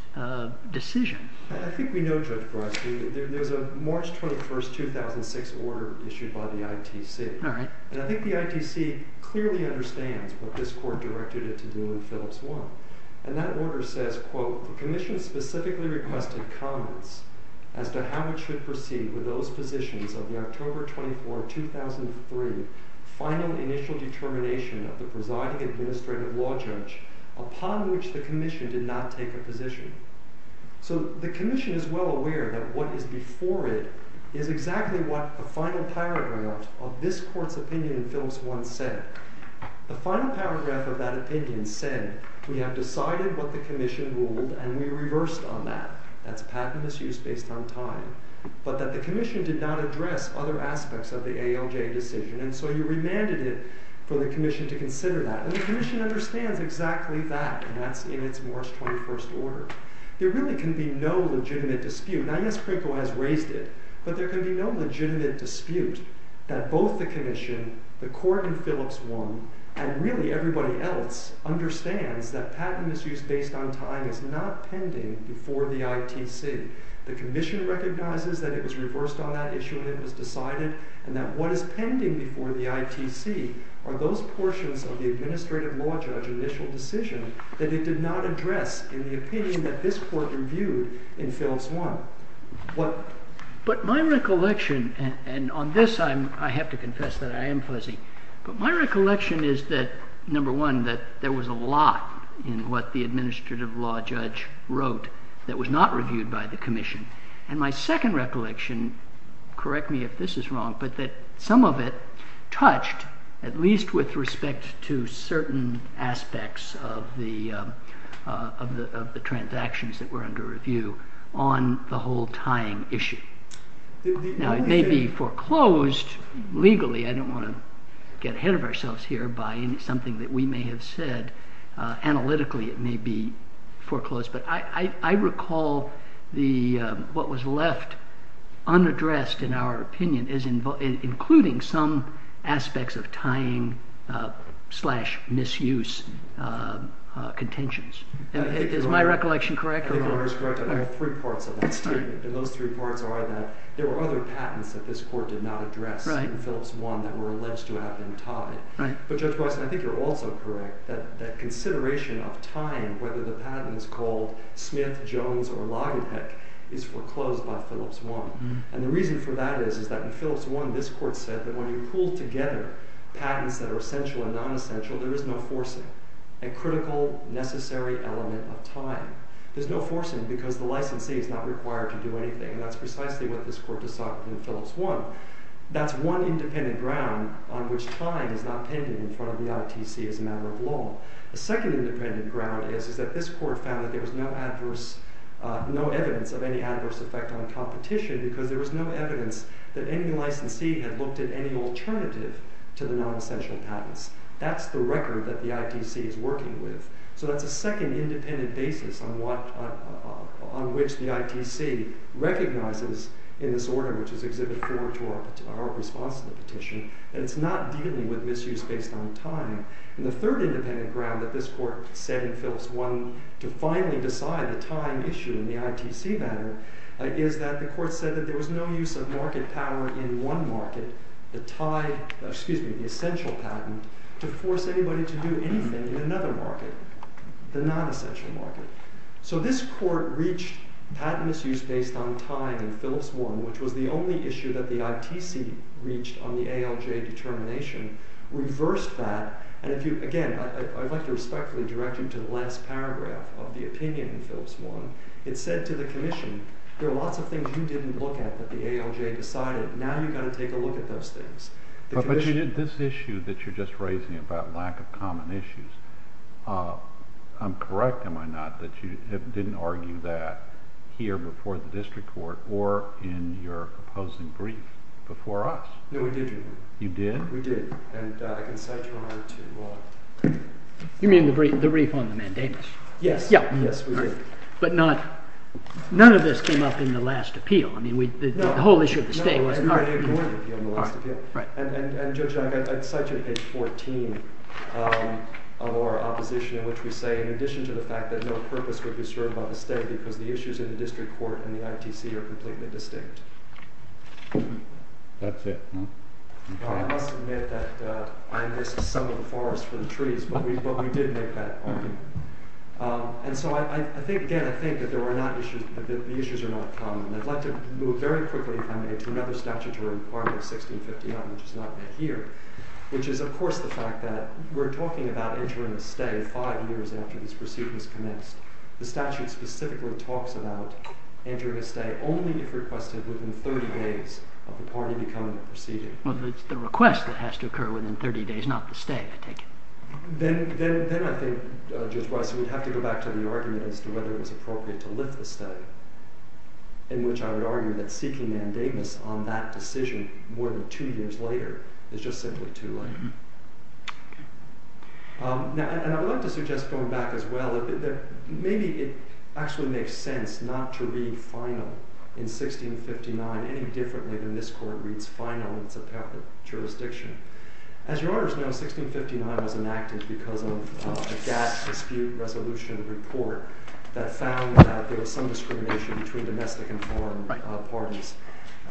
decision. I think we know there's a March 21, 2006 order issued by the ITC. And I think the ITC clearly understands what this court directed it to do in Phillips 1. And that order says quote, the commission specifically requested comments as to how it should proceed with those positions of the October 24, 2003 final initial determination of the presiding administrative law judge upon which the commission did not take a position. So the commission is well aware that what is before it is exactly what the final paragraph of this court's opinion in Phillips 1 said. The final paragraph of that opinion said we have decided what the commission ruled, and we reversed on that. That's patent misuse based on time. But that the commission did not address other aspects of the ALJ decision, and so you remanded it for the commission to consider that. And the commission understands exactly that, and that's in its March 21st order. There really can be no legitimate dispute. Now, yes, Krinko has raised it, but there can be no legitimate dispute that both the commission, the court in Phillips 1, and really everybody else, understands that patent misuse based on time is not pending before the ITC. The commission recognizes that it was reversed on that issue and it was decided, and that what is pending before the ITC are those portions of the administrative law judge initial decision that it did not address in the opinion that this court reviewed in Phillips 1. But my recollection, and on this I have to confess that I am fuzzy, but my recollection is that, number one, that there was a lot in what the administrative law judge wrote that was not reviewed by the commission. And my second recollection, correct me if this is wrong, but that some of it touched, at least with respect to certain aspects of the transactions that were under review, on the whole tying issue. Now, it may be foreclosed legally, I don't want to get ahead of ourselves here by something that we may have said, analytically it may be foreclosed, but I recall what was left unaddressed in our opinion, including some slash misuse contentions. Is my recollection correct? I think it is correct. I think there are three parts of that statement, and those three parts are that there were other patents that this court did not address in Phillips 1 that were alleged to have been tied. But Judge Wesson, I think you're also correct that consideration of time, whether the patent is called Smith, Jones, or Lagenheck, is foreclosed by Phillips 1. And the reason for that is that in Phillips 1 this court said that when you pool together patents that are essential and non-essential, there is no forcing. A critical, necessary element of time. There's no forcing because the licensee is not required to do anything, and that's precisely what this court decided in Phillips 1. That's one independent ground on which time is not pending in front of the ITC as a matter of law. The second independent ground is that this court found that there was no evidence of any adverse effect on competition because there was no evidence that any licensee had looked at any alternative to the non-essential patents. That's the record that the ITC is working with. So that's a second independent basis on which the ITC recognizes in this order which is Exhibit 4 to our response to the petition, that it's not dealing with misuse based on time. And the third independent ground that this court said in Phillips 1 to finally decide the time issue in the ITC matter is that the court said that there was no use of market power in one market, the essential patent, to force anybody to do anything in another market, the non-essential market. So this court reached patent misuse based on time in Phillips 1, which was the only issue that the ITC reached on the ALJ determination, reversed that, and again, I'd like to respectfully direct you to the last paragraph of the opinion in Phillips 1. It said to the commission, there are lots of things you didn't look at that the ALJ decided. Now you've got to take a look at those things. But this issue that you're just raising about lack of common issues, I'm correct, am I not, that you didn't argue that here before the district court or in your opposing brief before us? No, we did, Your Honor. You did? We did. And I can cite Your Honor to... You mean the brief on the Mandamus? Yes, we did. But none of this came up in the last appeal. The whole issue of the state wasn't argued. And Judge Young, I'd cite you to page 14 of our opposition in which we say, in addition to the fact that no purpose would be served by the state because the issues in the district court and the ITC are completely distinct. That's it. I must admit that I missed some of the forest for the trees, but we did make that argument. And so, again, I think that the issues are not common. And I'd like to move very quickly, if I may, to another statute which is not here, which is, of course, the fact that we're talking about entering a stay five years after this proceeding has commenced. The statute specifically talks about entering a stay only if requested within 30 days of the party becoming a proceeding. Well, it's the request that has to occur within 30 days, not the stay, I take it. Then I think, Judge Weiss, we'd have to go back to the argument as to whether it was appropriate to lift the stay, in which I would argue that seeking mandamus on that decision more than two years later is just simply too late. And I'd like to suggest going back as well that maybe it actually makes sense not to read final in 1659 any differently than this court reads final in Zapata jurisdiction. As your honors know, 1659 was enacted because of a gas dispute resolution report that found that there was some discrimination between domestic and foreign parties.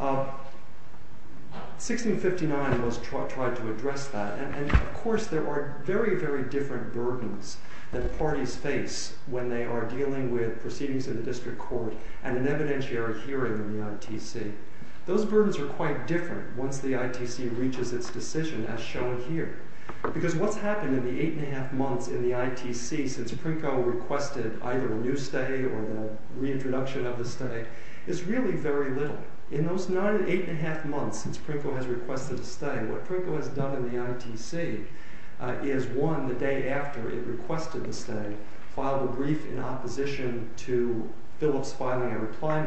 1659 was tried to address that, and of course there are very, very different burdens that parties face when they are dealing with proceedings in the district court and an evidentiary hearing in the ITC. Those burdens are quite different once the ITC reaches its decision as shown here, because what's happened in the eight and a half months in the ITC since Prinko requested either a new stay or the reintroduction of the stay is really very little. In those eight and a half months since Prinko has requested a stay, what Prinko has done in the ITC is, one, the day after it requested the stay, filed a brief in opposition to Phillips filing a reply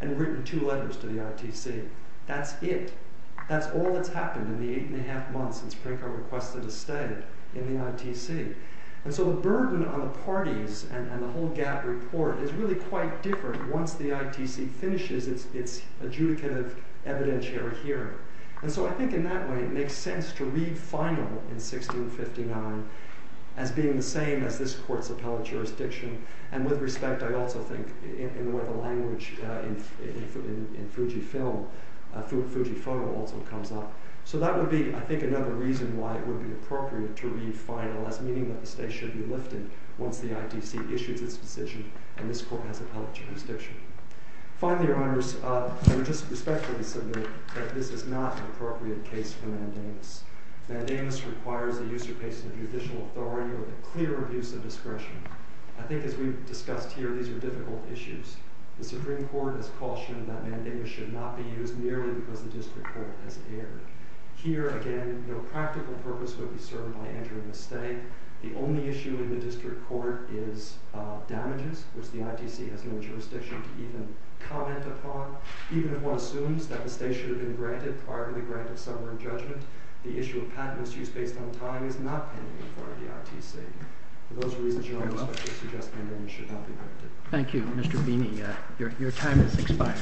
and written two letters to the ITC. That's it. That's all that's happened in the eight and a half months since Prinko requested a stay in the ITC. And so the burden on the parties and the whole gap report is really quite different once the ITC finishes its adjudicative evidentiary hearing. And so I think in that way it makes sense to read final in 1659 as being the same as this court's appellate jurisdiction, and with respect I also think in the way the language in Fujifilm, Fujifoto also comes up. So that would be, I think, another reason why it would be appropriate to read final as meaning that the stay should be lifted once the ITC issues its decision and this court has appellate jurisdiction. Finally, Your Honors, I would just respectfully submit that this is not an appropriate case for mandamus. Mandamus requires the use or placement of judicial authority or the clear use of discretion. I think as we've discussed here, these are difficult issues. The Supreme Court has cautioned that mandamus should not be used merely because the district court has erred. Here, again, no practical purpose would be served by entering a stay. The only issue in the district court is damages, which the ITC has no jurisdiction to even comment upon. Even if one assumes that the stay should have been granted prior to the grant of summary judgment, the issue of patentless use based on time is not pending in part of the case. I respectfully suggest mandamus should not be granted. Thank you, Mr. Beeney. Your time has expired.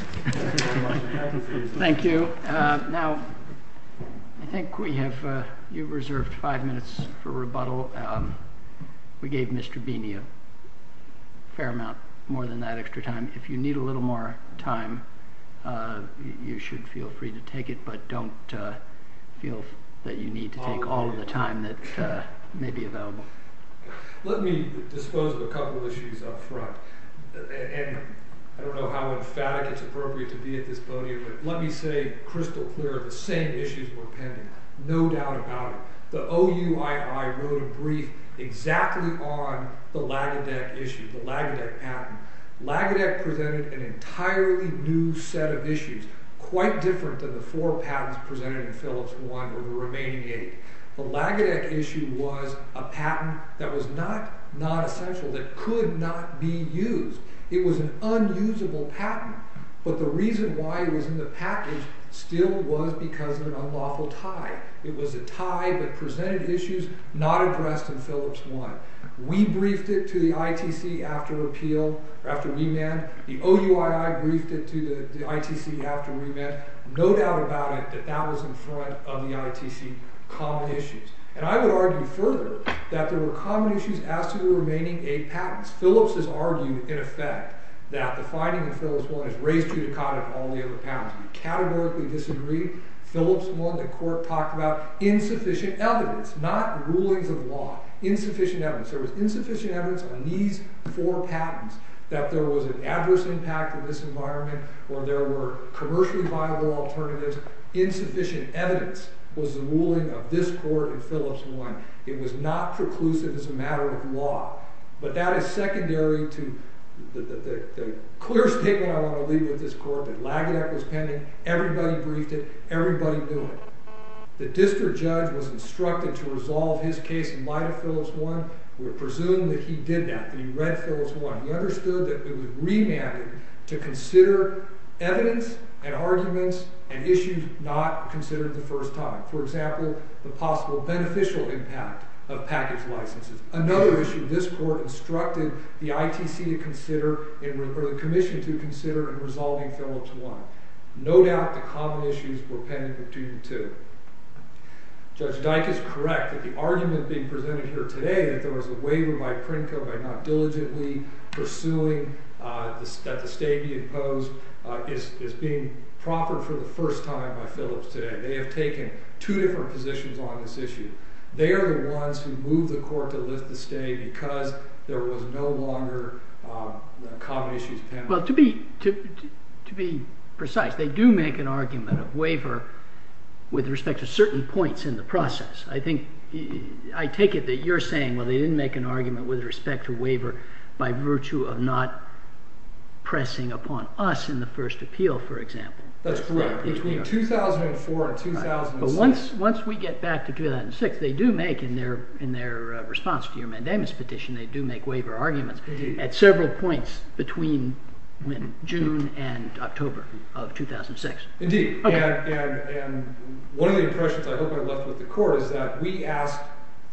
Thank you. Now, I think we have reserved five minutes for rebuttal. We gave Mr. Beeney a fair amount more than that extra time. If you need a little more time, you should feel free to take it, but don't feel that you need to take all of the time that may be available. Let me dispose of a couple of issues up front. I don't know how emphatic it's appropriate to be at this podium, but let me say crystal clear the same issues were pending, no doubt about it. The OUII wrote a brief exactly on the Lagedec issue, the Lagedec patent. Lagedec presented an entirely new set of issues, quite different than the four patents presented in Phillips 1, or the remaining eight. The Lagedec issue was a patent that was not essential, that could not be used. It was an unusable patent, but the reason why it was in the package still was because of an unlawful tie. It was a tie that presented issues not addressed in Phillips 1. We briefed it to the ITC after appeal, or after remand. The OUII briefed it to the ITC after remand. No doubt about it that that was in front of the ITC common issues. And I would argue further that there were common issues as to the remaining eight patents. Phillips has argued in effect that the finding in Phillips 1 has raised judicata on all the other patents. We categorically disagree. Phillips 1, the court talked about insufficient evidence, not rulings of law. Insufficient evidence. There was insufficient evidence on these four patents that there was an adverse impact on this environment, or there were commercially viable alternatives. Insufficient evidence was the ruling of this court in Phillips 1. It was not preclusive as a matter of law. But that is secondary to the clear statement I want to leave with this court, that Lagedact was pending, everybody briefed it, everybody knew it. The district judge was instructed to resolve his case in light of Phillips 1. We presume that he did that, that he read Phillips 1. He understood that it was remanded to consider evidence and arguments and issues not considered the first time. For example, the possible beneficial impact of package licenses. Another issue, this court instructed the ITC to consider, or the commission to consider, in resolving Phillips 1. No doubt the common issues were pending between the two. Judge Dyke is correct that the argument being presented here today, that there was a waiver by Prinko by not diligently pursuing that the stay be imposed is being prompted for the first time by Phillips today. They have taken two different positions on this issue. They are the ones who moved the court to lift the stay because there was no longer common issues pending. Well, to be precise, they do make an argument of waiver with respect to certain points in the process. I think I take it that you're saying well, they didn't make an argument with respect to pressing upon us in the first appeal, for example. That's correct. Between 2004 and 2006. But once we get back to 2006, they do make in their response to your mandamus petition they do make waiver arguments at several points between June and October of 2006. Indeed. And one of the impressions I hope I left with the court is that we asked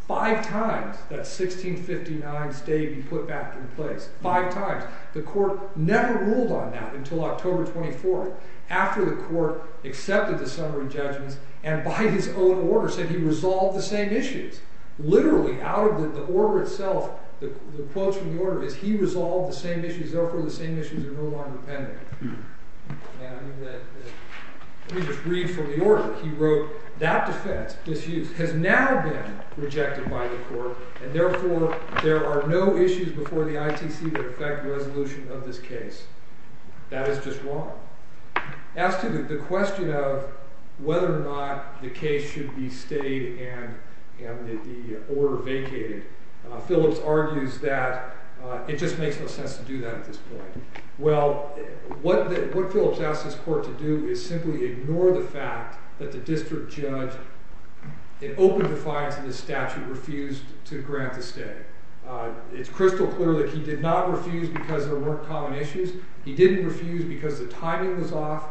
five times that 1659 stay be put back in place. Five times. The court never ruled on that until October 24th. After the court accepted the summary judgments and by his own order said he resolved the same issues. Literally out of the order itself the quotes from the order is he resolved the same issues, therefore the same issues are no longer pending. Let me just read from the order. He wrote, that defense has now been rejected by the court and therefore there are no issues before the ITC that affect resolution of this case. That is just wrong. As to the question of whether or not the case should be stayed and the order vacated, Phillips argues that it just makes no sense to do that at this point. Well, what Phillips asked this court to do is simply ignore the fact that the district judge in open defiance of this statute refused to grant the stay. It's crystal clear that he did not refuse because there weren't common issues. He didn't refuse because the timing was off.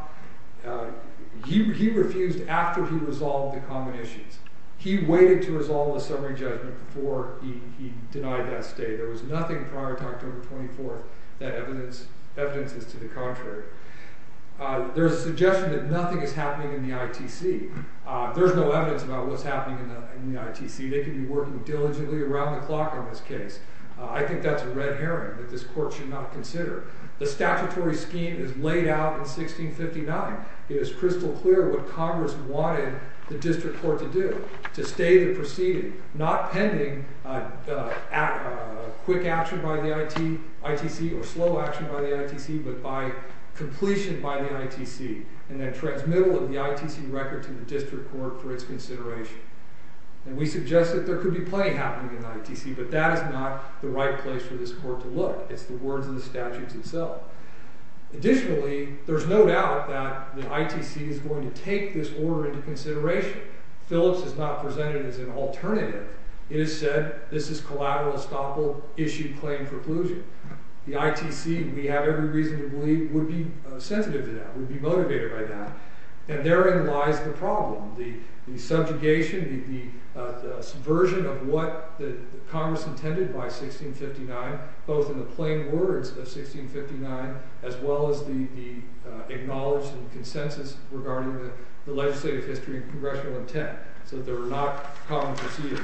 He refused after he resolved the common issues. He waited to resolve the summary judgment before he denied that stay. There was nothing prior to October 24th that evidences to the contrary. There's a suggestion that nothing is happening in the ITC. There's no evidence about what's working diligently around the clock on this case. I think that's a red herring that this court should not consider. The statutory scheme is laid out in 1659. It is crystal clear what Congress wanted the district court to do, to stay the proceeding, not pending quick action by the ITC or slow action by the ITC, but by completion by the ITC and then transmittal of the ITC record to the district court for its consideration. We suggest that there could be plenty happening in the ITC, but that is not the right place for this court to look. It's the words of the statutes itself. Additionally, there's no doubt that the ITC is going to take this order into consideration. Phillips is not presented as an alternative. It is said, this is collateral estoppel issued claim for collusion. The ITC, we have every reason to believe, would be sensitive to that, would be motivated by that. And therein lies the subjugation, the subversion of what Congress intended by 1659, both in the plain words of 1659, as well as the acknowledged consensus regarding the legislative history and congressional intent. So there were not common proceedings.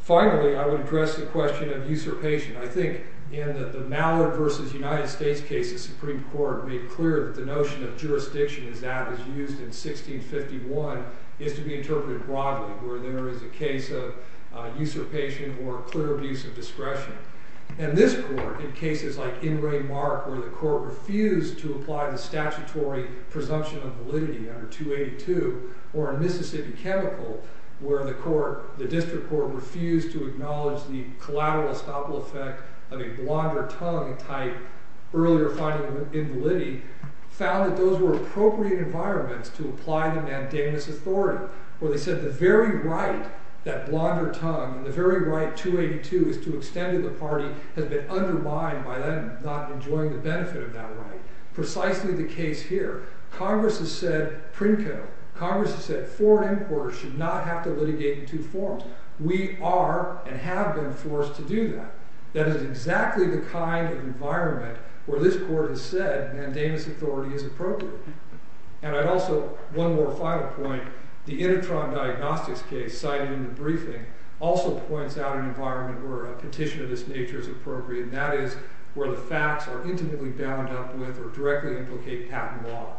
Finally, I would address the question of usurpation. I think in the Supreme Court made clear that the notion of jurisdiction as that was used in 1651 is to be interpreted broadly, where there is a case of usurpation or clear abuse of discretion. And this Court, in cases like Ingray-Mark, where the Court refused to apply the statutory presumption of validity under 282, or in Mississippi Chemical, where the District Court refused to acknowledge the collateral estoppel effect of a blunder-tongue type, earlier finding invalidity, found that those were appropriate environments to apply the mandamus authority, where they said the very right, that blunder- tongue, the very right, 282, is to extend to the party, has been undermined by them not enjoying the benefit of that right. Precisely the case here. Congress has said, prinko, Congress has said, foreign inquirers should not have to litigate in two forms. We are and have been forced to do that. That is exactly the kind of environment where this Court has said mandamus authority is appropriate. And I'd also, one more final point, the Intertron Diagnostics case, cited in the briefing, also points out an environment where a petition of this nature is appropriate, and that is where the facts are intimately bound up with or directly implicate patent law.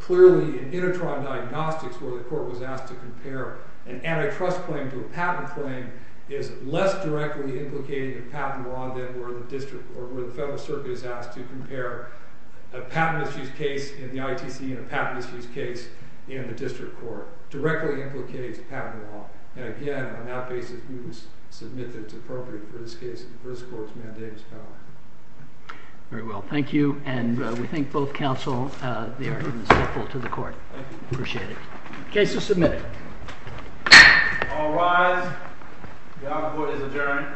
Clearly in Intertron Diagnostics, where the Court was asked to compare an antitrust claim to a patent claim, is less directly implicated in patent law than where the District, or where the Federal Circuit is asked to compare a patent misuse case in the ITC and a patent misuse case in the District Court. Directly implicates patent law. And again, on that basis we will submit that it's appropriate for this Court's mandamus power. Very well. Thank you. And we thank both counsel they are even stifle to the Court. Appreciate it. Case is submitted. All rise. The Audit Board is adjourned.